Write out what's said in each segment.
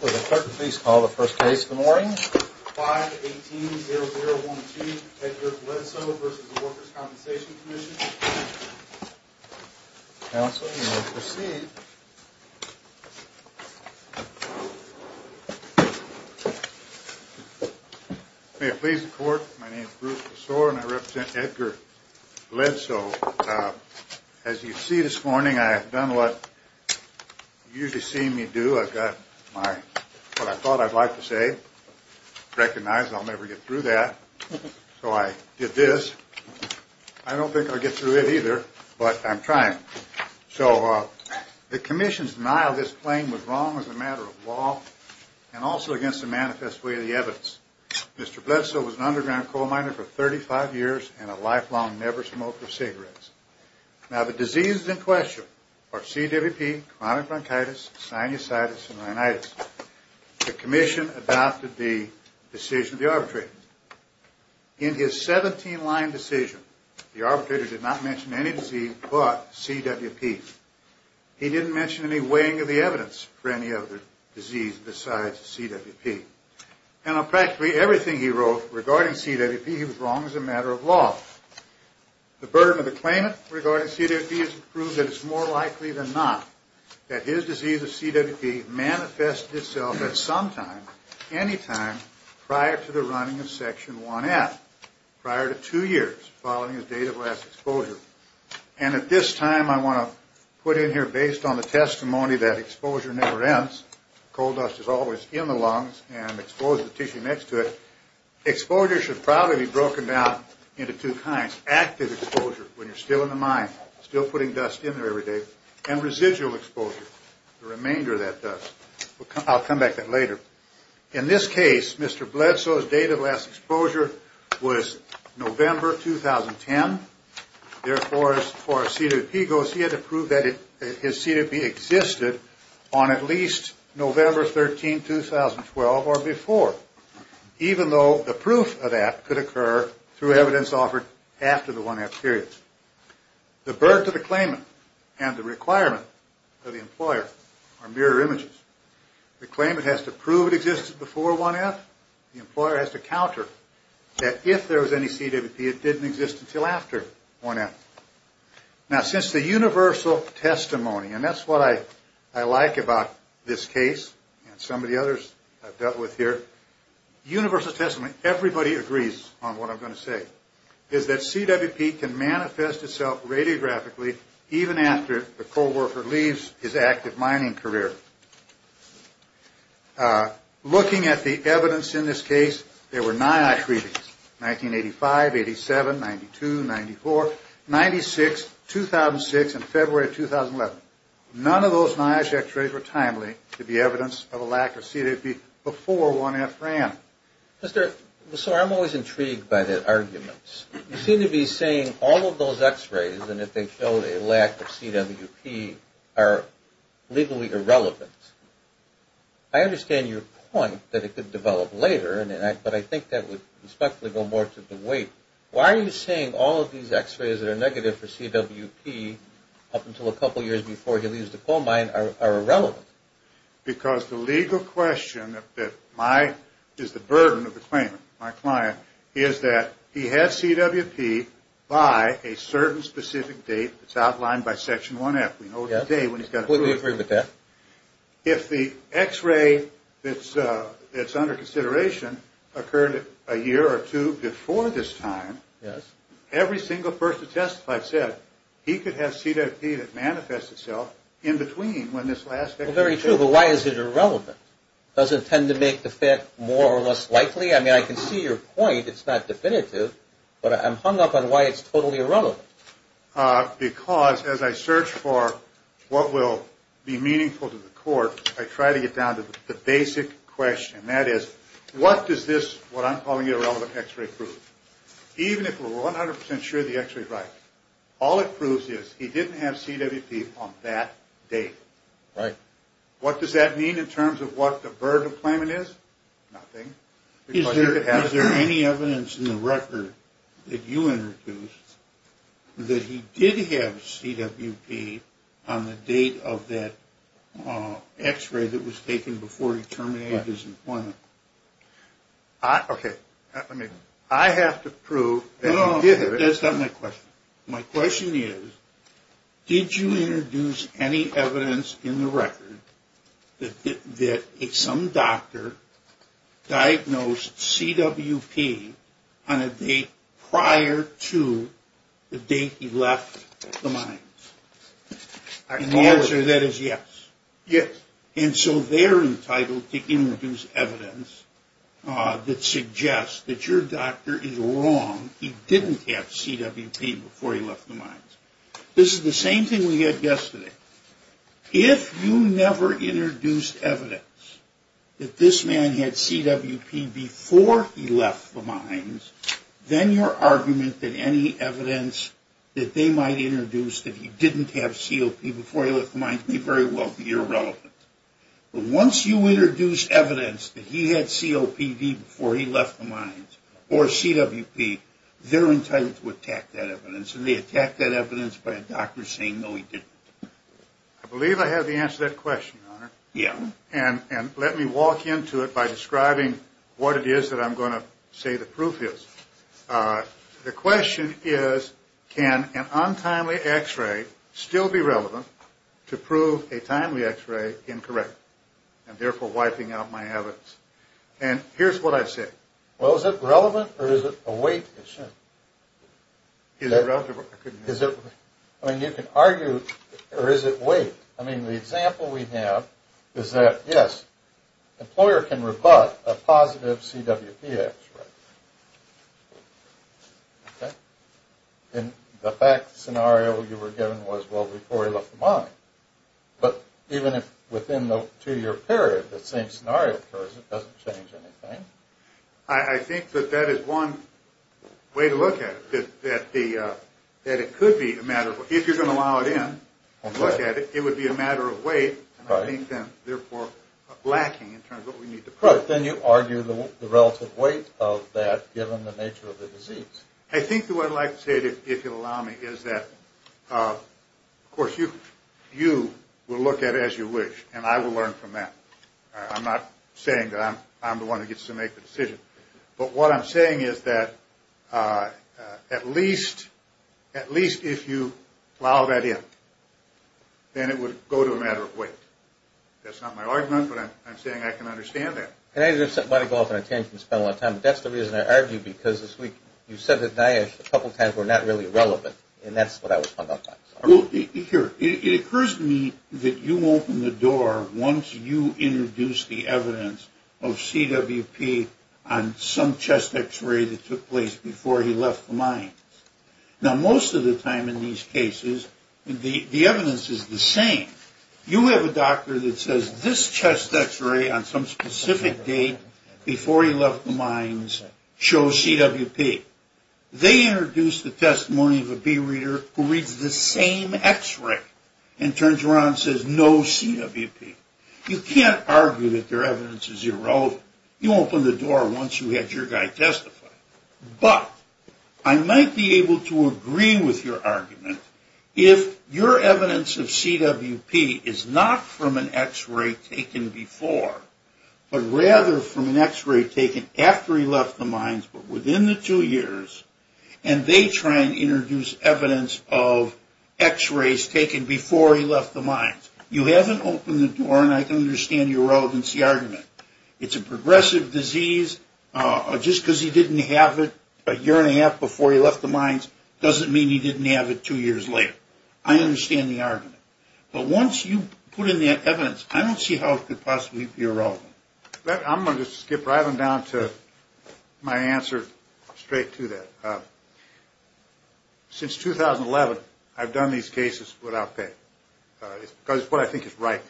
Will the clerk please call the first case of the morning? 518-0012, Edgar Bledsoe v. The Workers' Compensation Commission. Counsel, you may proceed. May it please the court, my name is Bruce Besore and I represent Edgar Bledsoe. As you see this morning, I have done what you usually see me do. I've got what I thought I'd like to say, recognized I'll never get through that, so I did this. I don't think I'll get through it either, but I'm trying. So the commission's denial of this claim was wrong as a matter of law and also against the manifest way of the evidence. Mr. Bledsoe was an underground coal miner for 35 years and a lifelong never-smoker of cigarettes. Now the diseases in question are CWP, chronic bronchitis, sinusitis, and rhinitis. The commission adopted the decision of the arbitrator. In his 17-line decision, the arbitrator did not mention any disease but CWP. He didn't mention any weighing of the evidence for any other disease besides CWP. And of practically everything he wrote regarding CWP, he was wrong as a matter of law. The burden of the claimant regarding CWP is to prove that it's more likely than not that his disease of CWP manifested itself at some time, any time, prior to the running of Section 1F. Prior to two years following his date of last exposure. And at this time I want to put in here based on the testimony that exposure never ends. Coal dust is always in the lungs and exposes the tissue next to it. Exposure should probably be broken down into two kinds. Active exposure, when you're still in the mine, still putting dust in there every day. And residual exposure, the remainder of that dust. I'll come back to that later. In this case, Mr. Bledsoe's date of last exposure was November 2010. Therefore, as far as CWP goes, he had to prove that his CWP existed on at least November 13, 2012 or before. Even though the proof of that could occur through evidence offered after the 1F period. The burden of the claimant and the requirement of the employer are mirror images. The claimant has to prove it existed before 1F. The employer has to counter that if there was any CWP, it didn't exist until after 1F. Now, since the universal testimony, and that's what I like about this case and some of the others I've dealt with here, universal testimony, everybody agrees on what I'm going to say, is that CWP can manifest itself radiographically even after the co-worker leaves his active mining career. Looking at the evidence in this case, there were NIOSH readings, 1985, 87, 92, 94, 96, 2006, and February of 2011. None of those NIOSH x-rays were timely to be evidence of a lack of CWP before 1F ran. Mr. Bledsoe, I'm always intrigued by the arguments. You seem to be saying all of those x-rays and that they showed a lack of CWP are legally irrelevant. I understand your point that it could develop later, but I think that would respectfully go more to the weight. Why are you saying all of these x-rays that are negative for CWP up until a couple years before he leaves the coal mine are irrelevant? Because the legal question that is the burden of the claimant, my client, is that he has CWP by a certain specific date that's outlined by Section 1F. We know the date when he's got it. Completely agree with that. If the x-ray that's under consideration occurred a year or two before this time, every single person testified said he could have CWP that manifests itself in between when this last x-ray occurred. Very true, but why is it irrelevant? Does it tend to make the fit more or less likely? I mean, I can see your point. It's not definitive, but I'm hung up on why it's totally irrelevant. Because as I search for what will be meaningful to the court, I try to get down to the basic question. That is, what does this, what I'm calling irrelevant, x-ray prove? Even if we're 100% sure the x-ray is right, all it proves is he didn't have CWP on that date. Right. What does that mean in terms of what the burden of the claimant is? Nothing. Is there any evidence in the record that you introduced that he did have CWP on the date of that x-ray that was taken before he terminated his employment? Okay. I have to prove that he did have it. That's not my question. My question is, did you introduce any evidence in the record that some doctor diagnosed CWP on a date prior to the date he left the mine? The answer to that is yes. Yes. And so they're entitled to introduce evidence that suggests that your doctor is wrong. He didn't have CWP before he left the mines. This is the same thing we had yesterday. If you never introduced evidence that this man had CWP before he left the mines, then your argument that any evidence that they might introduce that he didn't have CWP before he left the mines may very well be irrelevant. But once you introduce evidence that he had COPD before he left the mines or CWP, they're entitled to attack that evidence. And they attack that evidence by a doctor saying, no, he didn't. I believe I have the answer to that question, Your Honor. Yeah. And let me walk into it by describing what it is that I'm going to say the proof is. The question is, can an untimely X-ray still be relevant to prove a timely X-ray incorrect and therefore wiping out my evidence? And here's what I say. Well, is it relevant or is it a weight issue? Is it relevant? I mean, you can argue, or is it weight? I mean, the example we have is that, yes, an employer can rebut a positive CWP X-ray. And the fact scenario you were given was, well, before he left the mine. But even within the two-year period, the same scenario occurs, it doesn't change anything. I think that that is one way to look at it, that it could be a matter of, if you're going to allow it in and look at it, it would be a matter of weight, and I think then, therefore, lacking in terms of what we need to prove. But then you argue the relative weight of that given the nature of the disease. I think the way I'd like to say it, if you'll allow me, is that, of course, you will look at it as you wish, and I will learn from that. I'm not saying that I'm the one who gets to make the decision. But what I'm saying is that at least if you allow that in, then it would go to a matter of weight. That's not my argument, but I'm saying I can understand that. Can I just go off on a tangent and spend a lot of time, but that's the reason I argue, because this week you said that NIOSH a couple times were not really relevant, and that's what I was talking about. Here, it occurs to me that you open the door once you introduce the evidence of CWP on some chest X-ray that took place before he left the mines. Now, most of the time in these cases, the evidence is the same. You have a doctor that says this chest X-ray on some specific date before he left the mines shows CWP. They introduce the testimony of a B-reader who reads the same X-ray and turns around and says no CWP. You can't argue that their evidence is irrelevant. You open the door once you had your guy testify. But I might be able to agree with your argument if your evidence of CWP is not from an X-ray taken before, but rather from an X-ray taken after he left the mines, but within the two years, and they try and introduce evidence of X-rays taken before he left the mines. You haven't opened the door, and I can understand your relevancy argument. It's a progressive disease. Just because he didn't have it a year and a half before he left the mines doesn't mean he didn't have it two years later. I understand the argument. But once you put in the evidence, I don't see how it could possibly be irrelevant. I'm going to skip right on down to my answer straight to that. Since 2011, I've done these cases without pay because it's what I think is right.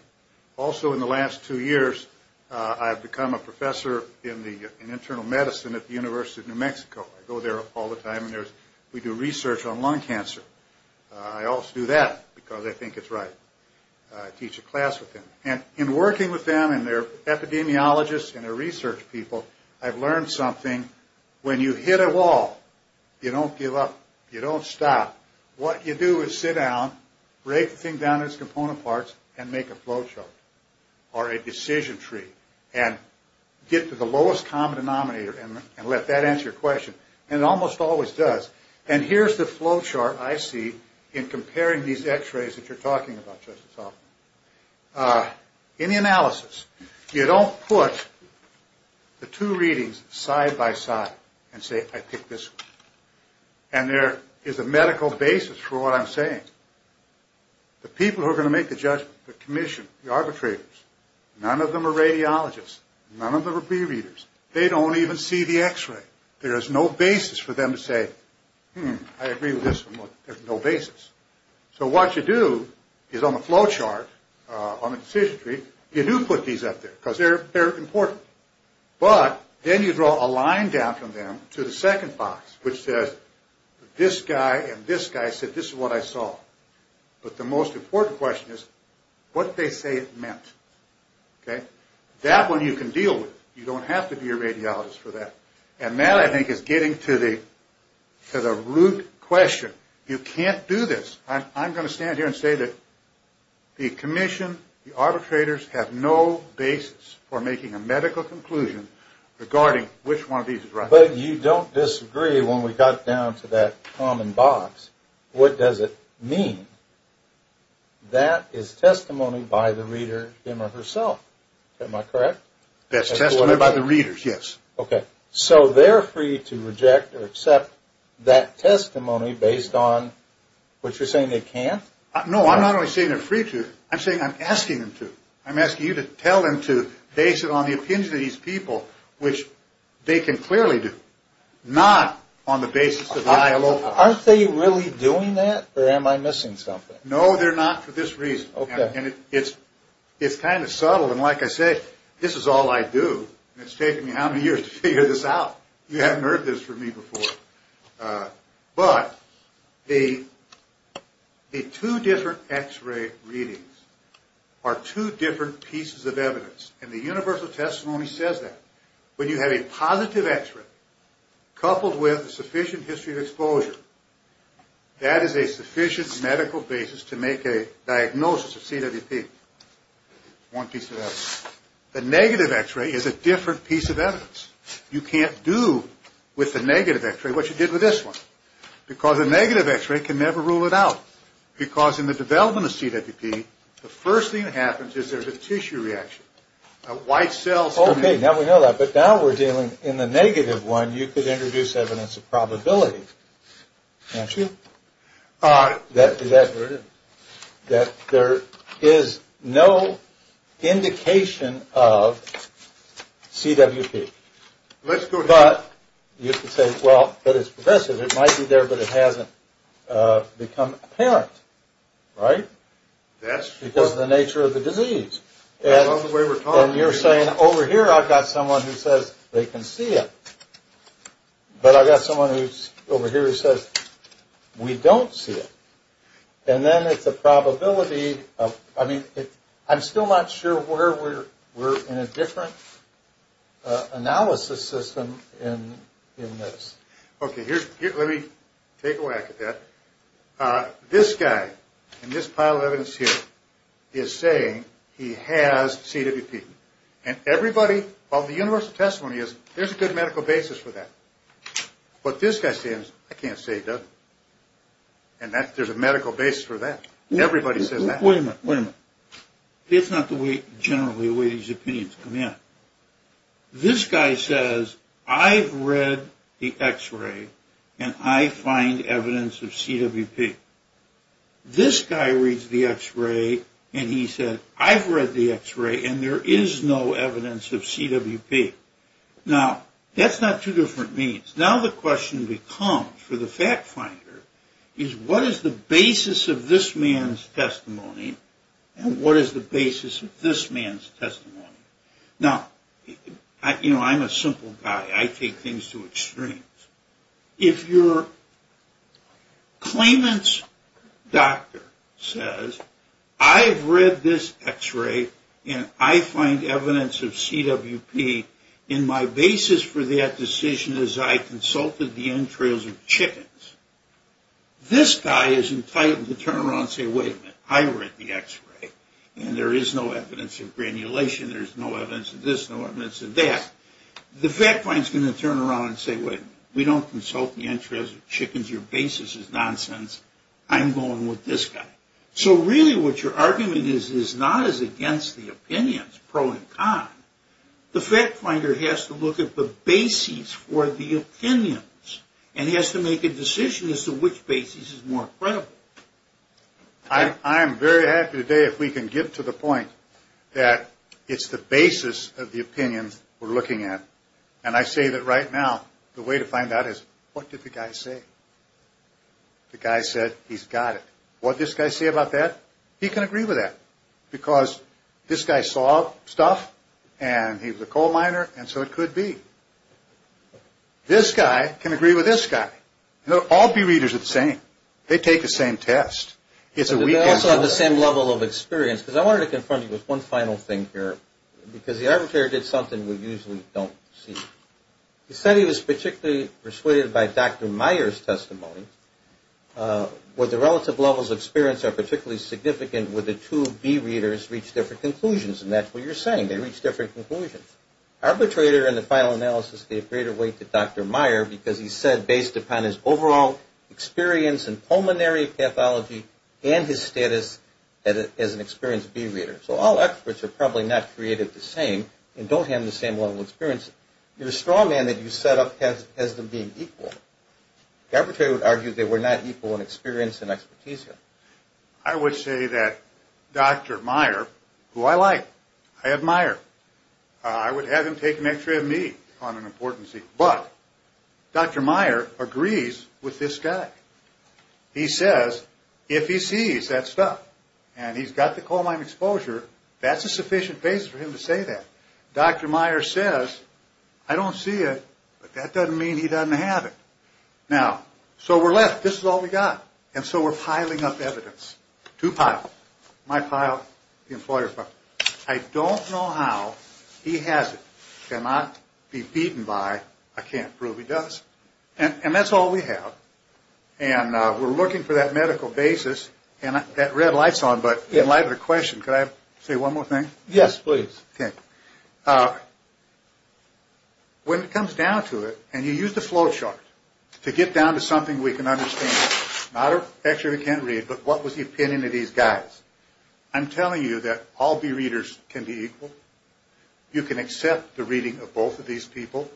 Also, in the last two years, I've become a professor in internal medicine at the University of New Mexico. I go there all the time, and we do research on lung cancer. I also do that because I think it's right. I teach a class with them, and in working with them and their epidemiologists and their research people, I've learned something. When you hit a wall, you don't give up. You don't stop. What you do is sit down, break the thing down into component parts, and make a flow chart or a decision tree and get to the lowest common denominator and let that answer your question, and it almost always does. And here's the flow chart I see in comparing these x-rays that you're talking about, Justice Hoffman. In the analysis, you don't put the two readings side by side and say, I pick this one. And there is a medical basis for what I'm saying. The people who are going to make the judgment, the commission, the arbitrators, none of them are radiologists. None of them are pre-readers. They don't even see the x-ray. There is no basis for them to say, hmm, I agree with this one. There's no basis. So what you do is on the flow chart, on the decision tree, you do put these up there because they're important. But then you draw a line down from them to the second box, which says this guy and this guy said this is what I saw. But the most important question is what they say it meant. That one you can deal with. You don't have to be a radiologist for that. And that, I think, is getting to the root question. You can't do this. I'm going to stand here and say that the commission, the arbitrators, have no basis for making a medical conclusion regarding which one of these is right. But you don't disagree when we got down to that common box. What does it mean? That is testimony by the reader him or herself. Am I correct? That's testimony by the readers, yes. Okay. So they're free to reject or accept that testimony based on what you're saying they can't? No, I'm not only saying they're free to. I'm saying I'm asking them to. I'm asking you to tell them to based on the opinions of these people, which they can clearly do, not on the basis of the ILO. Aren't they really doing that or am I missing something? No, they're not for this reason. Okay. And it's kind of subtle, and like I say, this is all I do, and it's taken me how many years to figure this out? You haven't heard this from me before. But the two different x-ray readings are two different pieces of evidence, and the universal testimony says that. When you have a positive x-ray coupled with a sufficient history of exposure, that is a sufficient medical basis to make a diagnosis of CWP. One piece of evidence. The negative x-ray is a different piece of evidence. You can't do with the negative x-ray what you did with this one because a negative x-ray can never rule it out. Because in the development of CWP, the first thing that happens is there's a tissue reaction. White cells come in. Okay, now we know that. But now we're dealing in the negative one. You could introduce evidence of probability, can't you, that there is no indication of CWP. Let's go ahead. But you could say, well, but it's progressive. It might be there, but it hasn't become apparent. Right? That's true. Because of the nature of the disease. And you're saying, over here I've got someone who says they can see it. But I've got someone who's over here who says we don't see it. And then it's a probability. I mean, I'm still not sure where we're in a different analysis system in this. Okay, let me take a whack at that. This guy in this pile of evidence here is saying he has CWP. And everybody of the universal testimony is, there's a good medical basis for that. But this guy says, I can't say he doesn't. And there's a medical basis for that. Everybody says that. Wait a minute. Wait a minute. It's not the way, generally, the way these opinions come in. This guy says, I've read the X-ray and I find evidence of CWP. This guy reads the X-ray and he says, I've read the X-ray and there is no evidence of CWP. Now, that's not two different means. Now the question becomes, for the fact finder, is what is the basis of this man's testimony and what is the basis of this man's testimony? Now, you know, I'm a simple guy. I take things to extremes. If your claimant's doctor says, I've read this X-ray and I find evidence of CWP, and my basis for that decision is I consulted the entrails of chickens, this guy is entitled to turn around and say, wait a minute. I read the X-ray and there is no evidence of granulation. There is no evidence of this, no evidence of that. The fact finder is going to turn around and say, wait a minute. We don't consult the entrails of chickens. Your basis is nonsense. I'm going with this guy. So really what your argument is is not as against the opinions, pro and con. The fact finder has to look at the basis for the opinions and has to make a decision as to which basis is more credible. I'm very happy today if we can get to the point that it's the basis of the opinions we're looking at. And I say that right now the way to find out is what did the guy say? The guy said he's got it. What did this guy say about that? He can agree with that because this guy saw stuff and he was a coal miner and so it could be. This guy can agree with this guy. All B readers are the same. They take the same test. They also have the same level of experience. Because I wanted to confront you with one final thing here because the arbitrator did something we usually don't see. He said he was particularly persuaded by Dr. Meyer's testimony where the relative levels of experience are particularly significant where the two B readers reached different conclusions. And that's what you're saying. They reached different conclusions. Arbitrator in the final analysis gave greater weight to Dr. Meyer because he said based upon his overall experience in pulmonary pathology and his status as an experienced B reader. So all experts are probably not created the same and don't have the same level of experience. You're a strong man that you set up as them being equal. The arbitrator would argue they were not equal in experience and expertise here. I would say that Dr. Meyer, who I like, I admire, I would have him take an X-ray of me on an importancy. But Dr. Meyer agrees with this guy. He says if he sees that stuff and he's got the cold Lyme exposure, that's a sufficient basis for him to say that. Dr. Meyer says, I don't see it, but that doesn't mean he doesn't have it. Now, so we're left. This is all we've got. And so we're piling up evidence. Two piles. My pile, the employer's pile. I don't know how he has it. Cannot be beaten by, I can't prove he does. And that's all we have. And we're looking for that medical basis. And that red light's on, but in light of the question, could I say one more thing? Yes, please. Okay. When it comes down to it, and you use the flow chart to get down to something we can understand, not a picture we can't read, but what was the opinion of these guys, I'm telling you that all B readers can be equal. You can accept the reading of both of these people.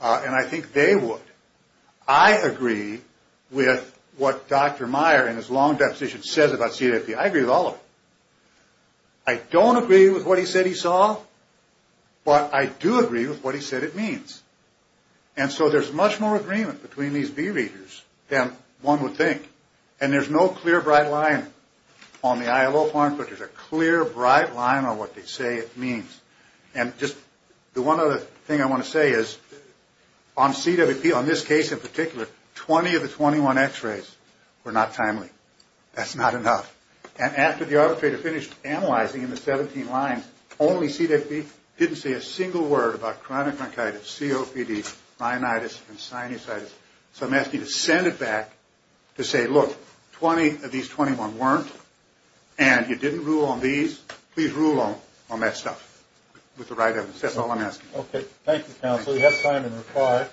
And I think they would. I agree with what Dr. Meyer in his long deposition says about CFP. I agree with all of it. I don't agree with what he said he saw, but I do agree with what he said it means. And so there's much more agreement between these B readers than one would think. And there's no clear, bright line on the ILO form, but there's a clear, bright line on what they say it means. And just the one other thing I want to say is, on CWP, on this case in particular, 20 of the 21 x-rays were not timely. That's not enough. And after the arbitrator finished analyzing in the 17 lines, only CWP didn't say a single word about chronic bronchitis, COPD, rhinitis, and sinusitis. So I'm asking you to send it back to say, look, 20 of these 21 weren't, and you didn't rule on these. Please rule on that stuff with the right evidence. That's all I'm asking. Okay. Thank you, counsel. You have time to reply.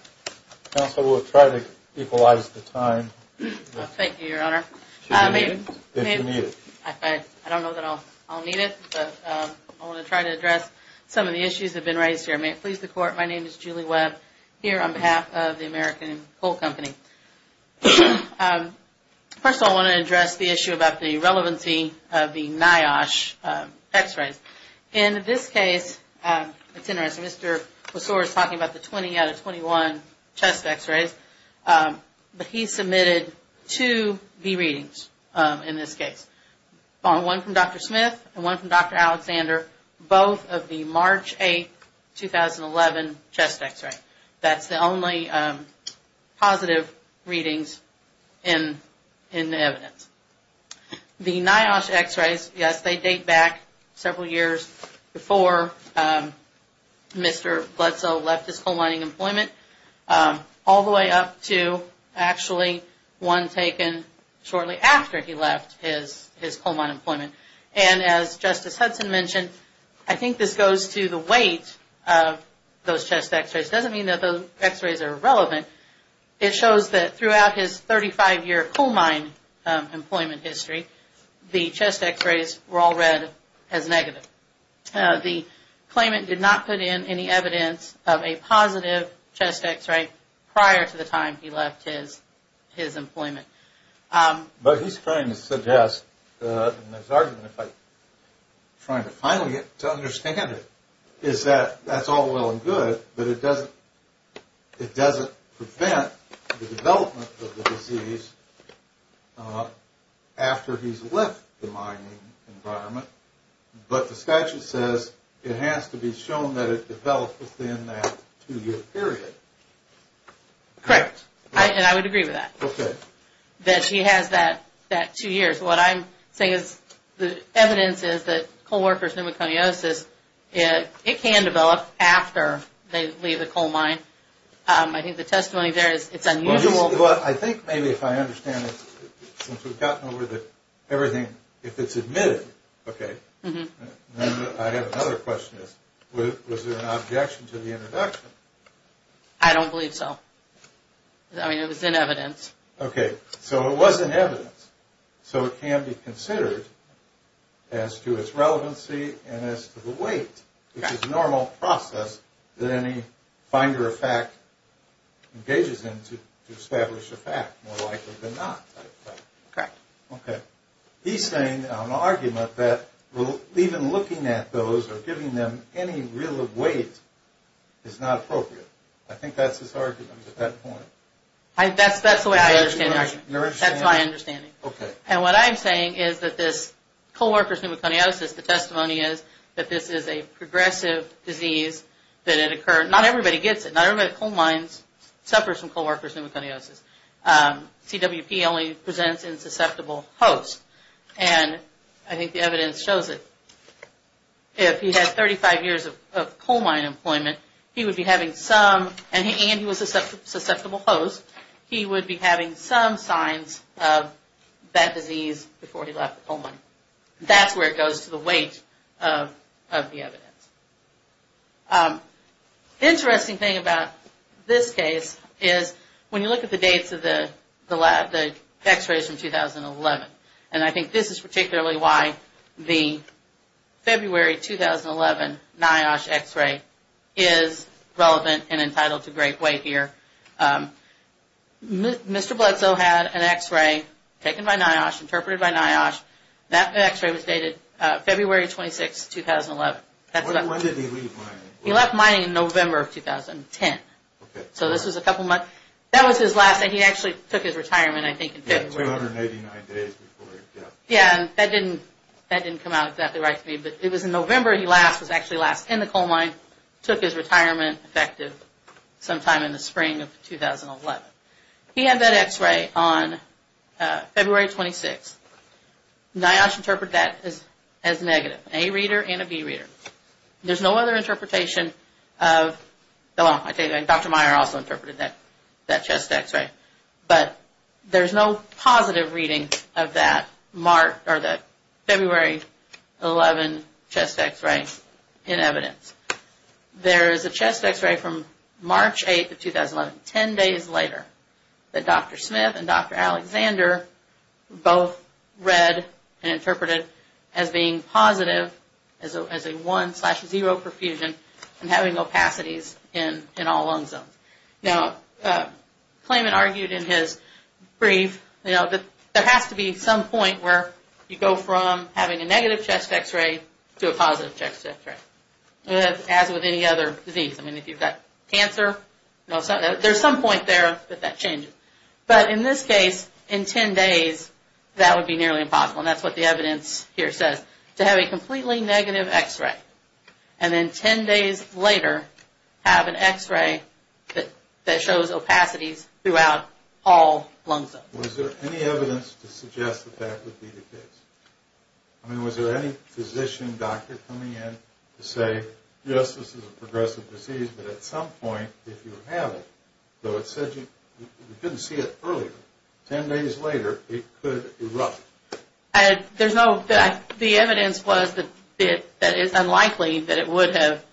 Counsel, we'll try to equalize the time. Thank you, Your Honor. If you need it. I don't know that I'll need it, but I want to try to address some of the issues that have been raised here. May it please the Court. My name is Julie Webb, here on behalf of the American Cold Company. First of all, I want to address the issue about the relevancy of the NIOSH x-rays. In this case, it's interesting, Mr. Wasore is talking about the 20 out of 21 chest x-rays, but he submitted two re-readings in this case, one from Dr. Smith and one from Dr. Alexander, both of the March 8, 2011, chest x-ray. That's the only positive readings in the evidence. The NIOSH x-rays, yes, they date back several years before Mr. Bledsoe left his coal mining employment, all the way up to actually one taken shortly after he left his coal mine employment. And as Justice Hudson mentioned, I think this goes to the weight of those chest x-rays. It doesn't mean that those x-rays are irrelevant. It shows that throughout his 35-year coal mine employment history, the chest x-rays were all read as negative. The claimant did not put in any evidence of a positive chest x-ray prior to the time he left his employment. But he's trying to suggest, and his argument, if I'm trying to finally get to understand it, is that that's all well and good, but it doesn't prevent the development of the disease after he's left the mining environment. But the statute says it has to be shown that it developed within that two-year period. Correct, and I would agree with that. Okay. That he has that two years. What I'm saying is the evidence is that coal worker's pneumoconiosis, it can develop after they leave the coal mine. I think the testimony there is it's unusual. Well, I think maybe if I understand it, since we've gotten over everything, if it's admitted, okay. I have another question. Was there an objection to the introduction? I don't believe so. I mean, it was in evidence. Okay. So it was in evidence, so it can be considered as to its relevancy and as to the weight, which is a normal process that any finder of fact engages in to establish a fact, more likely than not. Correct. Okay. He's saying an argument that even looking at those or giving them any real weight is not appropriate. I think that's his argument at that point. That's the way I understand it. That's my understanding. Okay. And what I'm saying is that this coal worker's pneumoconiosis, the testimony is that this is a progressive disease that had occurred. Not everybody gets it. Not everybody at coal mines suffers from coal worker's pneumoconiosis. CWP only presents in susceptible hosts, and I think the evidence shows it. If he had 35 years of coal mine employment, he would be having some, and he was a susceptible host, he would be having some signs of that disease before he left the coal mine. That's where it goes to the weight of the evidence. Interesting thing about this case is when you look at the dates of the X-rays from 2011, and I think this is particularly why the February 2011 NIOSH X-ray is relevant and entitled to great weight here. Mr. Bledsoe had an X-ray taken by NIOSH, interpreted by NIOSH. That X-ray was dated February 26, 2011. When did he leave mining? He left mining in November of 2010. Okay. So this was a couple months. That was his last, and he actually took his retirement, I think, in February. 289 days before he left. Yeah, and that didn't come out exactly right to me, but it was in November he left, was actually left in the coal mine, took his retirement effective sometime in the spring of 2011. He had that X-ray on February 26. NIOSH interpreted that as negative, an A reader and a B reader. There's no other interpretation of, well, Dr. Meyer also interpreted that chest X-ray, but there's no positive reading of that February 11 chest X-ray in evidence. There is a chest X-ray from March 8, 2011, 10 days later, that Dr. Smith and Dr. Alexander both read and interpreted as being positive as a 1 slash 0 perfusion and having opacities in all lung zones. Now, Klayman argued in his brief, you know, that there has to be some point where you go from having a negative chest X-ray to a positive chest X-ray, as with any other disease. I mean, if you've got cancer, there's some point there that that changes. But in this case, in 10 days, that would be nearly impossible, and that's what the evidence here says, to have a completely negative X-ray and then 10 days later have an X-ray that shows opacities throughout all lung zones. Was there any evidence to suggest that that would be the case? I mean, was there any physician, doctor coming in to say, yes, this is a progressive disease, but at some point, if you have it, though it said you couldn't see it earlier, 10 days later, it could erupt? The evidence was that it's unlikely that it would have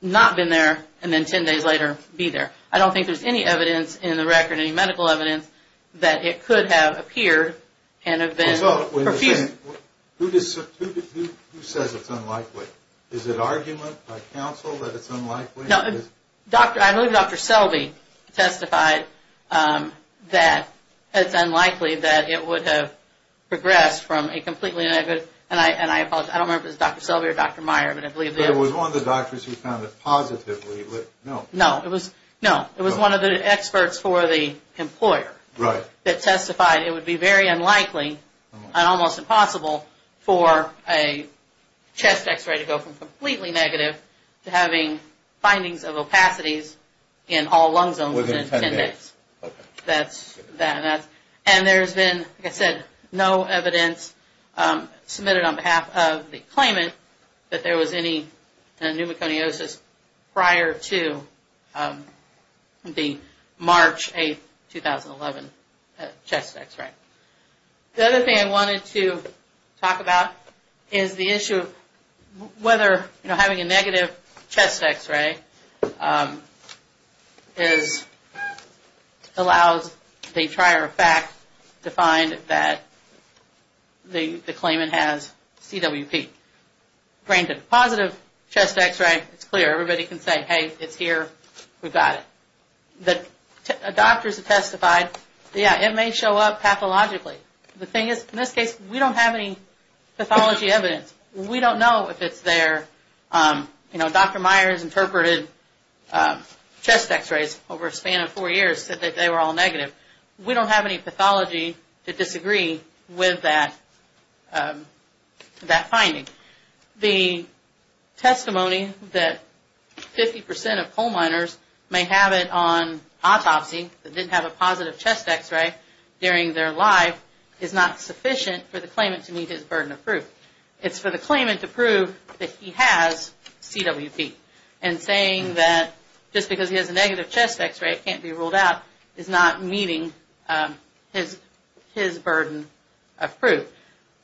not been there and then 10 days later be there. I don't think there's any evidence in the record, any medical evidence, that it could have appeared and have been perfused. Who says it's unlikely? Is it argument by counsel that it's unlikely? I believe Dr. Selby testified that it's unlikely that it would have progressed from a completely negative, and I apologize. I don't remember if it was Dr. Selby or Dr. Meyer, but I believe it was. But it was one of the doctors who found it positively. No, it was one of the experts for the employer that testified it would be very unlikely and almost impossible for a chest X-ray to go from completely negative to having findings of opacities in all lung zones within 10 days. Within 10 days. That's that. And there's been, like I said, no evidence submitted on behalf of the claimant that there was any pneumoconiosis prior to the March 8, 2011, chest X-ray. The other thing I wanted to talk about is the issue of whether having a negative chest X-ray allows the trier of fact to find that the claimant has CWP. Granted, a positive chest X-ray, it's clear. Everybody can say, hey, it's here, we've got it. Doctors have testified, yeah, it may show up pathologically. The thing is, in this case, we don't have any pathology evidence. We don't know if it's there. You know, Dr. Meyer has interpreted chest X-rays over a span of four years and said that they were all negative. We don't have any pathology to disagree with that finding. The testimony that 50% of coal miners may have it on autopsy, that didn't have a positive chest X-ray during their life, is not sufficient for the claimant to meet his burden of proof. It's for the claimant to prove that he has CWP. And saying that just because he has a negative chest X-ray, it can't be ruled out, is not meeting his burden of proof.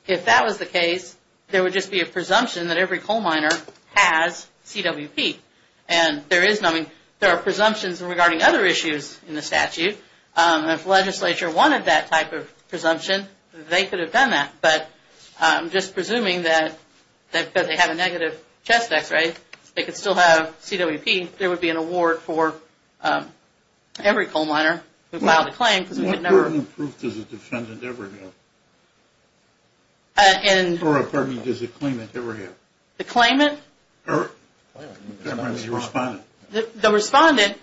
If that was the case, there would just be a presumption that every coal miner has CWP. And there are presumptions regarding other issues in the statute. If the legislature wanted that type of presumption, they could have done that. But just presuming that they have a negative chest X-ray, they could still have CWP, there would be an award for every coal miner who filed a claim. What burden of proof does the defendant ever have? Or, pardon me, does the claimant ever have? The claimant? Or the respondent. The respondent,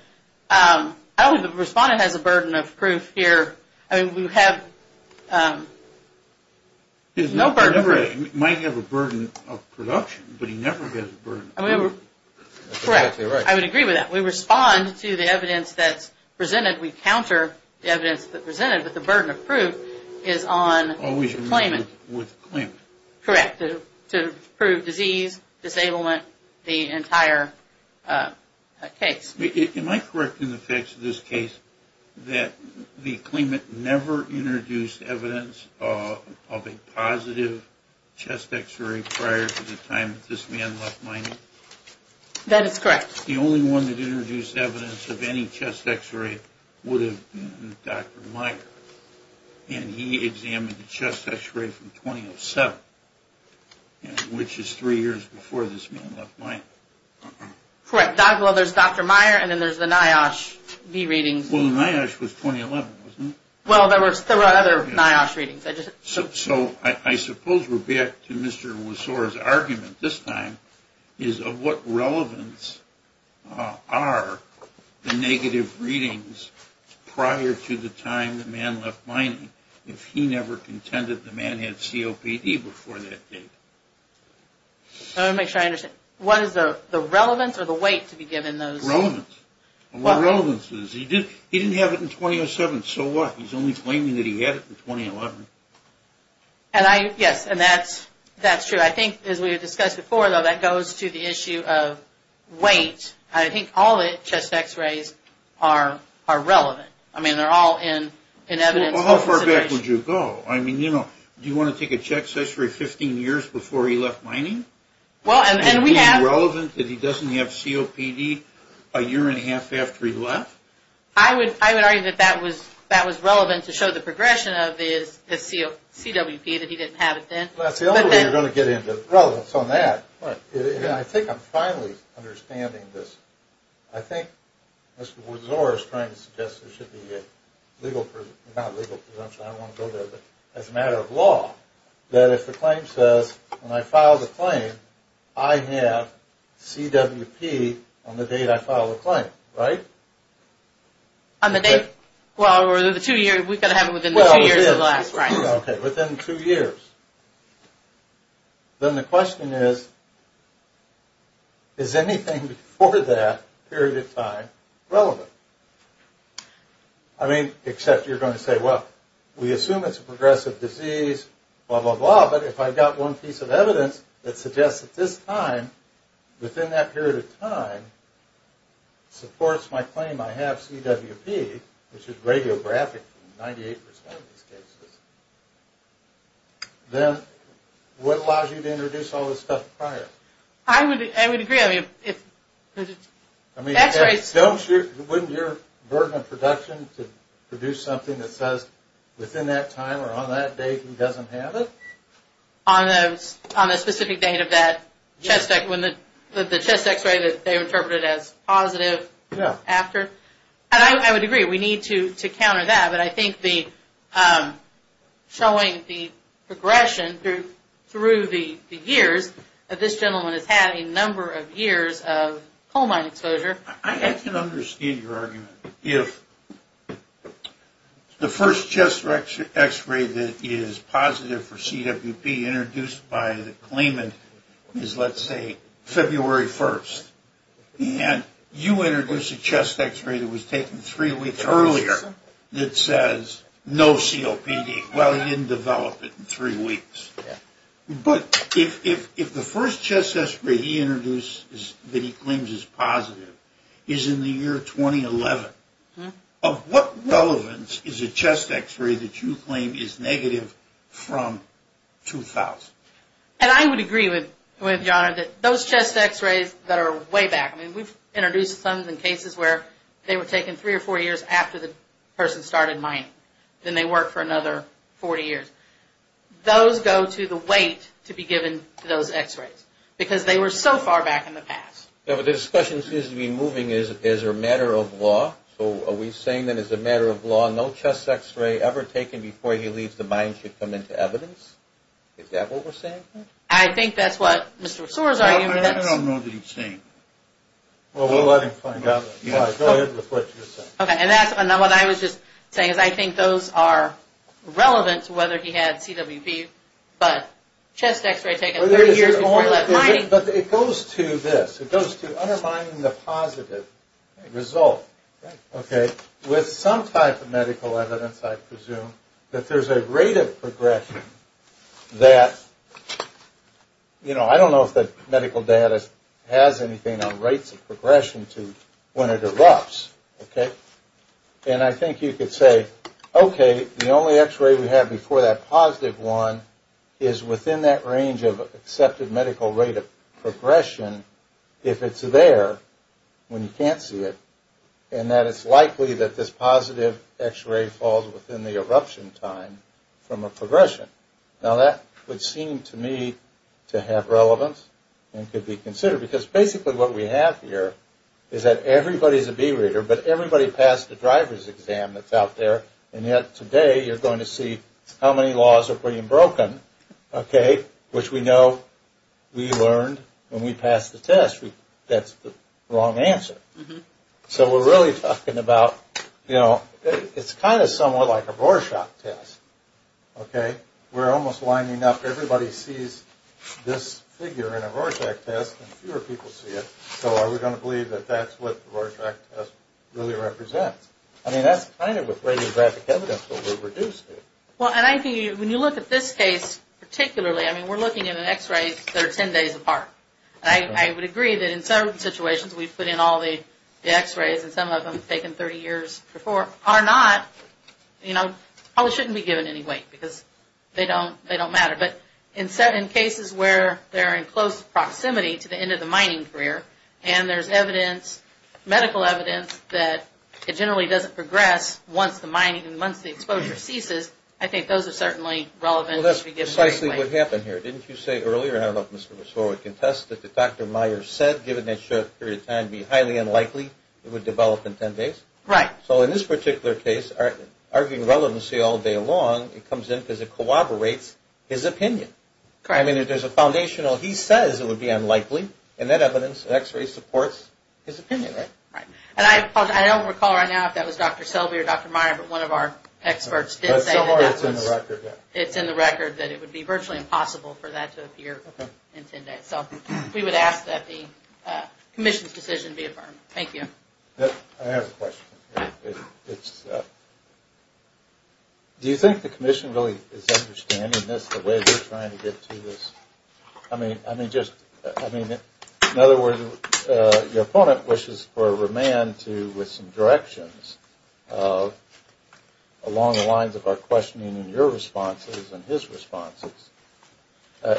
I don't think the respondent has a burden of proof here. I mean, we have no burden of proof. He might have a burden of production, but he never has a burden of proof. Correct. I would agree with that. We respond to the evidence that's presented. We counter the evidence that's presented. But the burden of proof is on the claimant. Always removed with the claimant. Correct. To prove disease, disablement, the entire case. Am I correct in the facts of this case that the claimant never introduced evidence of a positive chest X-ray prior to the time that this man left mining? That is correct. The only one that introduced evidence of any chest X-ray would have been Dr. Meyer. And he examined the chest X-ray from 2007, which is three years before this man left mining. Correct. Well, there's Dr. Meyer, and then there's the NIOSH B readings. Well, the NIOSH was 2011, wasn't it? Well, there were other NIOSH readings. So I suppose we're back to Mr. Wasora's argument this time is of what relevance are the negative readings prior to the time the man left mining if he never contended the man had COPD before that date? I want to make sure I understand. What is the relevance or the weight to be given those? Relevance. And what relevance is, he didn't have it in 2007, so what? He's only claiming that he had it in 2011. Yes, and that's true. I think, as we discussed before, though, that goes to the issue of weight. I think all the chest X-rays are relevant. I mean, they're all in evidence of consideration. Well, how far back would you go? I mean, you know, do you want to take a chest X-ray 15 years before he left mining? Well, and we have... Is it relevant that he doesn't have COPD a year and a half after he left? I would argue that that was relevant to show the progression of his CWP, that he didn't have it then. Well, that's the only way you're going to get into relevance on that. I think I'm finally understanding this. I think Mr. Wasora is trying to suggest there should be a legal... not legal presumption, I don't want to go there, but as a matter of law, that if the claim says, when I file the claim, I have CWP on the date I file the claim, right? On the date? Well, or the two years. We've got to have it within the two years of the last rights. Okay, within two years. Then the question is, is anything before that period of time relevant? I mean, except you're going to say, well, we assume it's a progressive disease, blah, blah, blah, but if I've got one piece of evidence that suggests that this time, within that period of time, supports my claim I have CWP, which is radiographic in 98% of these cases, then what allows you to introduce all this stuff prior? I would agree. I mean, wouldn't your burden of production to produce something that says, within that time or on that date, he doesn't have it? On the specific date of that chest X-ray that they interpreted as positive after? Yeah. And I would agree. We need to counter that, but I think showing the progression through the years, that this gentleman has had a number of years of coal mine exposure. I can understand your argument. If the first chest X-ray that is positive for CWP introduced by the claimant is, let's say, February 1st, and you introduce a chest X-ray that was taken three weeks earlier that says, no COPD. Well, he didn't develop it in three weeks. But if the first chest X-ray he introduced that he claims is positive is in the year 2011, of what relevance is a chest X-ray that you claim is negative from 2000? And I would agree with John that those chest X-rays that are way back, I mean, we've introduced some cases where they were taken three or four years after the person started mining. Then they worked for another 40 years. Those go to the weight to be given to those X-rays because they were so far back in the past. Yeah, but the discussion seems to be moving as a matter of law. So are we saying that as a matter of law, no chest X-ray ever taken before he leaves the mine should come into evidence? Is that what we're saying here? I think that's what Mr. Sore's argument is. I don't know what he's saying. Well, we'll let him find out. Go ahead with what you're saying. Okay, and that's what I was just saying is I think those are relevant to whether he had CWP, but chest X-ray taken 30 years before he left mining. But it goes to this. It goes to undermining the positive result, okay, with some type of medical evidence, I presume, that there's a rate of progression that, you know, I don't know if the medical data has anything on rates of progression to when it erupts, okay? And I think you could say, okay, the only X-ray we have before that positive one is within that range of accepted medical rate of progression, if it's there when you can't see it, and that it's likely that this positive X-ray falls within the eruption time from a progression. Now, that would seem to me to have relevance and could be considered, because basically what we have here is that everybody's a B reader, but everybody passed the driver's exam that's out there, and yet today you're going to see how many laws are being broken, okay, which we know we learned when we passed the test that's the wrong answer. So we're really talking about, you know, it's kind of somewhat like a Rorschach test, okay? We're almost lining up. Everybody sees this figure in a Rorschach test, and fewer people see it. So are we going to believe that that's what the Rorschach test really represents? I mean, that's kind of with radiographic evidence what we're reduced to. Well, and I think when you look at this case particularly, I mean, we're looking at an X-ray that's 10 days apart. I would agree that in some situations we've put in all the X-rays, and some of them have taken 30 years before, are not, you know, probably shouldn't be given any weight because they don't matter. But in cases where they're in close proximity to the end of the mining career, and there's evidence, medical evidence, that it generally doesn't progress once the mining, once the exposure ceases, I think those are certainly relevant to be given weight. Well, that's precisely what happened here. Didn't you say earlier, and I don't know if Mr. Ressort would contest it, that Dr. Meyer said given a short period of time it would be highly unlikely it would develop in 10 days? Right. So in this particular case, arguing relevancy all day long, it comes in because it corroborates his opinion. Correct. I mean, if there's a foundational he says it would be unlikely, in that evidence an X-ray supports his opinion, right? Right. And I don't recall right now if that was Dr. Selby or Dr. Meyer, but one of our experts did say that that was. So far it's in the record, yeah. It's in the record that it would be virtually impossible for that to appear in 10 days. So we would ask that the commission's decision be affirmed. Thank you. I have a question. Do you think the commission really is understanding this, the way they're trying to get to this? I mean, just, I mean, in other words, your opponent wishes for a remand to, with some directions along the lines of our questioning in your responses and his responses. I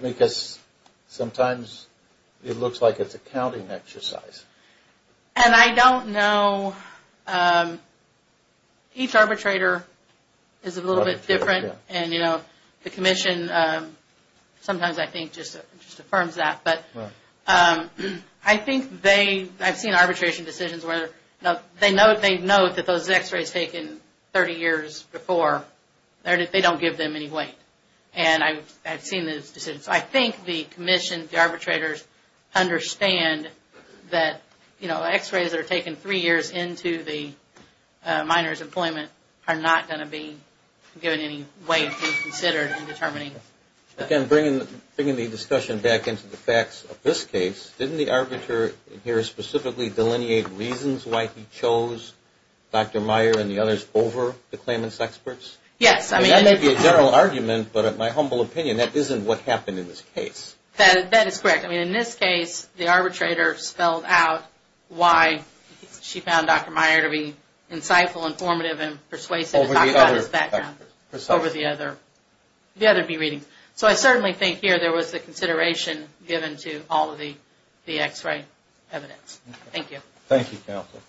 mean, because sometimes it looks like it's a counting exercise. And I don't know. Each arbitrator is a little bit different, and, you know, the commission sometimes, I think, just affirms that. Right. I think they, I've seen arbitration decisions where they note that those x-rays taken 30 years before, they don't give them any weight. And I've seen those decisions. So I think the commission, the arbitrators, understand that, you know, x-rays that are taken three years into the minor's employment are not going to be given any weight to be considered in determining. Again, bringing the discussion back into the facts of this case, didn't the arbiter here specifically delineate reasons why he chose Dr. Meyer and the others over the claimants' experts? Yes. I mean, that may be a general argument, but in my humble opinion, that isn't what happened in this case. That is correct. I mean, in this case, the arbitrator spelled out why she found Dr. Meyer to be insightful, informative, and persuasive about his background. Over the other experts. So I certainly think here there was the consideration given to all of the x-ray evidence. Thank you. Thank you, counsel.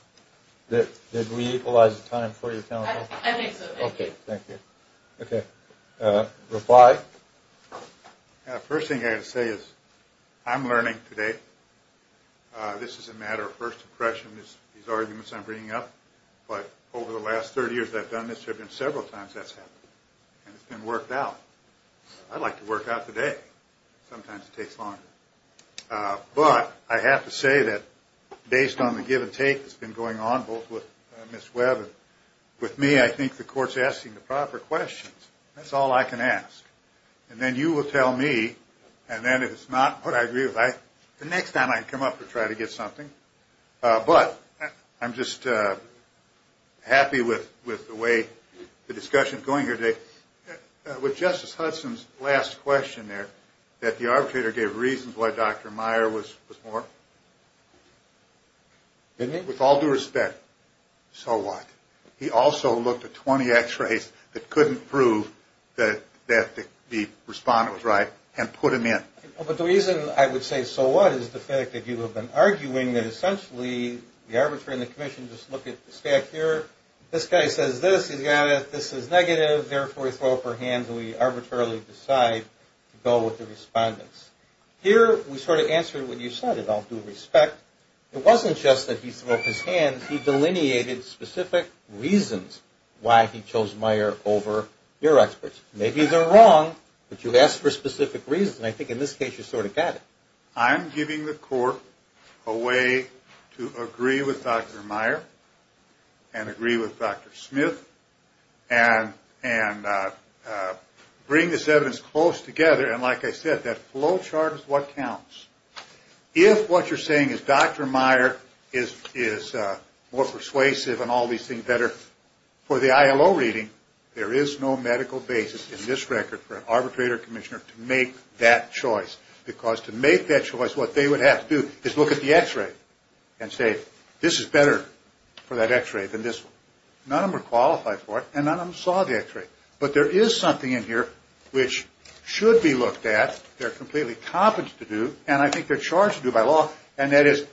Did we equalize the time for you, counsel? I think so. Thank you. Okay. Thank you. Okay. Reply. First thing I've got to say is I'm learning today. This is a matter of first impression, these arguments I'm bringing up. But over the last 30 years that I've done this, there have been several times that's happened. And it's been worked out. I'd like to work out the day. Sometimes it takes longer. But I have to say that based on the give and take that's been going on both with Ms. Webb and with me, I think the court's asking the proper questions. That's all I can ask. And then you will tell me, and then if it's not what I agree with, the next time I come up and try to get something. But I'm just happy with the way the discussion is going here today. With Justice Hudson's last question there, that the arbitrator gave reasons why Dr. Meyer was more. Didn't he? With all due respect, so what? He also looked at 20 X-rays that couldn't prove that the respondent was right and put him in. But the reason I would say so what is the fact that you have been arguing that essentially the arbitrator and the commission just look at the staff here. This guy says this. He's got it. This is negative. Therefore, we throw up our hands and we arbitrarily decide to go with the respondents. Here, we sort of answered what you said, with all due respect. It wasn't just that he threw up his hands. He delineated specific reasons why he chose Meyer over your experts. Maybe they're wrong, but you asked for specific reasons. And I think in this case you sort of got it. I'm giving the court a way to agree with Dr. Meyer and agree with Dr. Smith and bring this evidence close together. And like I said, that flow chart is what counts. If what you're saying is Dr. Meyer is more persuasive and all these things better for the ILO reading, there is no medical basis in this record for an arbitrator or commissioner to make that choice. Because to make that choice, what they would have to do is look at the x-ray and say this is better for that x-ray than this one. None of them are qualified for it, and none of them saw the x-ray. But there is something in here which should be looked at. They're completely competent to do, and I think they're charged to do by law, and that is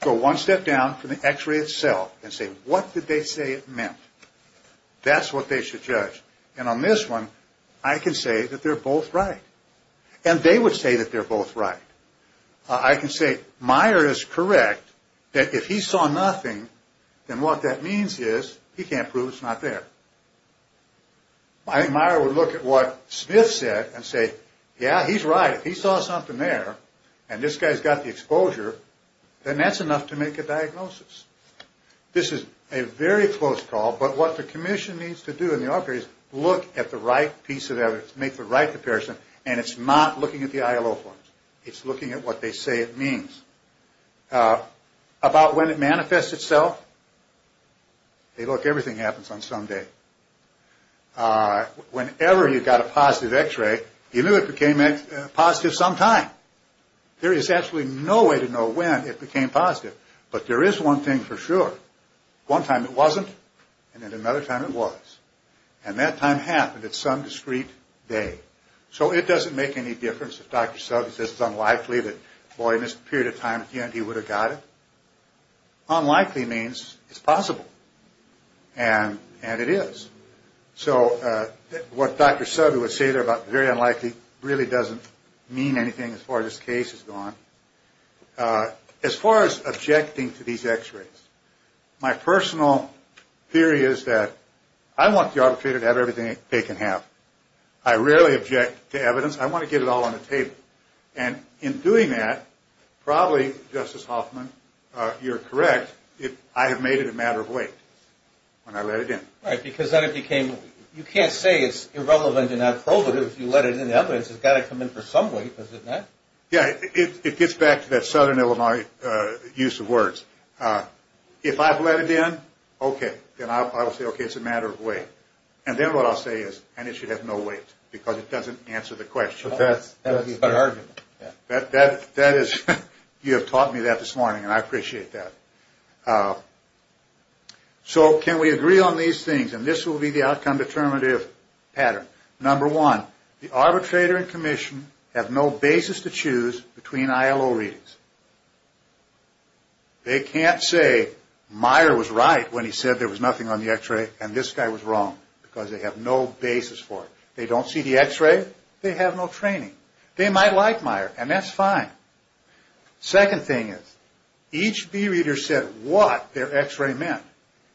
go one step down from the x-ray itself and say what did they say it meant. That's what they should judge. And on this one, I can say that they're both right. And they would say that they're both right. I can say Meyer is correct that if he saw nothing, then what that means is he can't prove it's not there. I think Meyer would look at what Smith said and say, yeah, he's right. He saw something there, and this guy's got the exposure, then that's enough to make a diagnosis. This is a very close call, but what the commission needs to do in the arbitration is look at the right piece of evidence, make the right comparison, and it's not looking at the ILO forms. It's looking at what they say it means. About when it manifests itself, hey, look, everything happens on Sunday. Whenever you got a positive x-ray, you knew it became positive sometime. There is actually no way to know when it became positive, but there is one thing for sure. One time it wasn't, and then another time it was, and that time happened at some discreet day. So it doesn't make any difference if Dr. Suggs says it's unlikely that, boy, in this period of time at the end he would have got it. Unlikely means it's possible, and it is. So what Dr. Sugg would say there about very unlikely really doesn't mean anything as far as this case has gone. As far as objecting to these x-rays, my personal theory is that I want the arbitrator to have everything they can have. I rarely object to evidence. I want to get it all on the table. In doing that, probably, Justice Hoffman, you're correct, I have made it a matter of weight when I let it in. Right, because then it became, you can't say it's irrelevant and not probative if you let it in. The evidence has got to come in for some weight, does it not? Yeah, it gets back to that Southern Illinois use of words. If I've let it in, okay, then I will say, okay, it's a matter of weight. And then what I'll say is, and it should have no weight because it doesn't answer the question. But that's the argument. That is, you have taught me that this morning, and I appreciate that. So can we agree on these things? And this will be the outcome determinative pattern. Number one, the arbitrator and commission have no basis to choose between ILO readings. They can't say Meyer was right when he said there was nothing on the x-ray and this guy was wrong because they have no basis for it. They don't see the x-ray, they have no training. They might like Meyer, and that's fine. Second thing is, each B reader said what their x-ray meant,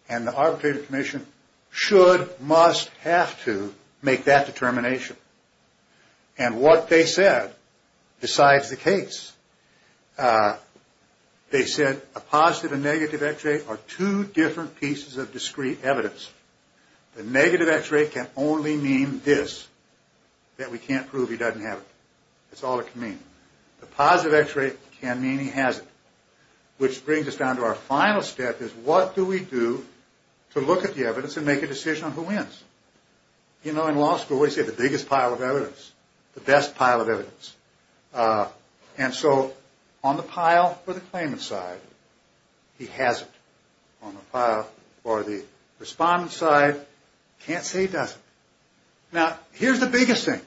and the arbitrator and commission should, must, have to make that determination. And what they said decides the case. They said a positive and negative x-ray are two different pieces of discrete evidence. The negative x-ray can only mean this, that we can't prove he doesn't have it. That's all it can mean. The positive x-ray can mean he has it, which brings us down to our final step, is what do we do to look at the evidence and make a decision on who wins? You know, in law school, we say the biggest pile of evidence, the best pile of evidence. And so on the pile for the claimant side, he has it. On the pile for the respondent side, can't say he doesn't. Now, here's the biggest thing.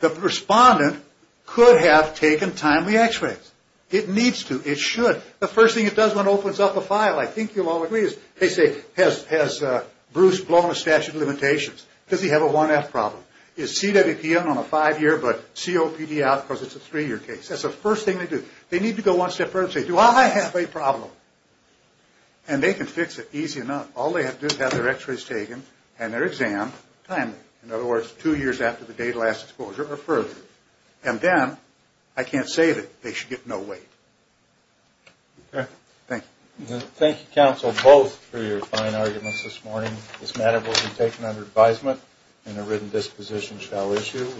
The respondent could have taken time with the x-rays. It needs to. It should. The first thing it does when it opens up a file, I think you'll all agree, is they say, has Bruce blown a statute of limitations? Does he have a 1F problem? Is CWPN on a five-year, but COPD out because it's a three-year case? That's the first thing they do. They need to go one step further and say, do I have a problem? And they can fix it easy enough. All they have to do is have their x-rays taken and their exam timely. In other words, two years after the date of last exposure or further. And then, I can't say that they should get no weight. Okay. Thank you. Thank you, counsel, both for your fine arguments this morning. This matter will be taken under advisement and a written disposition shall issue.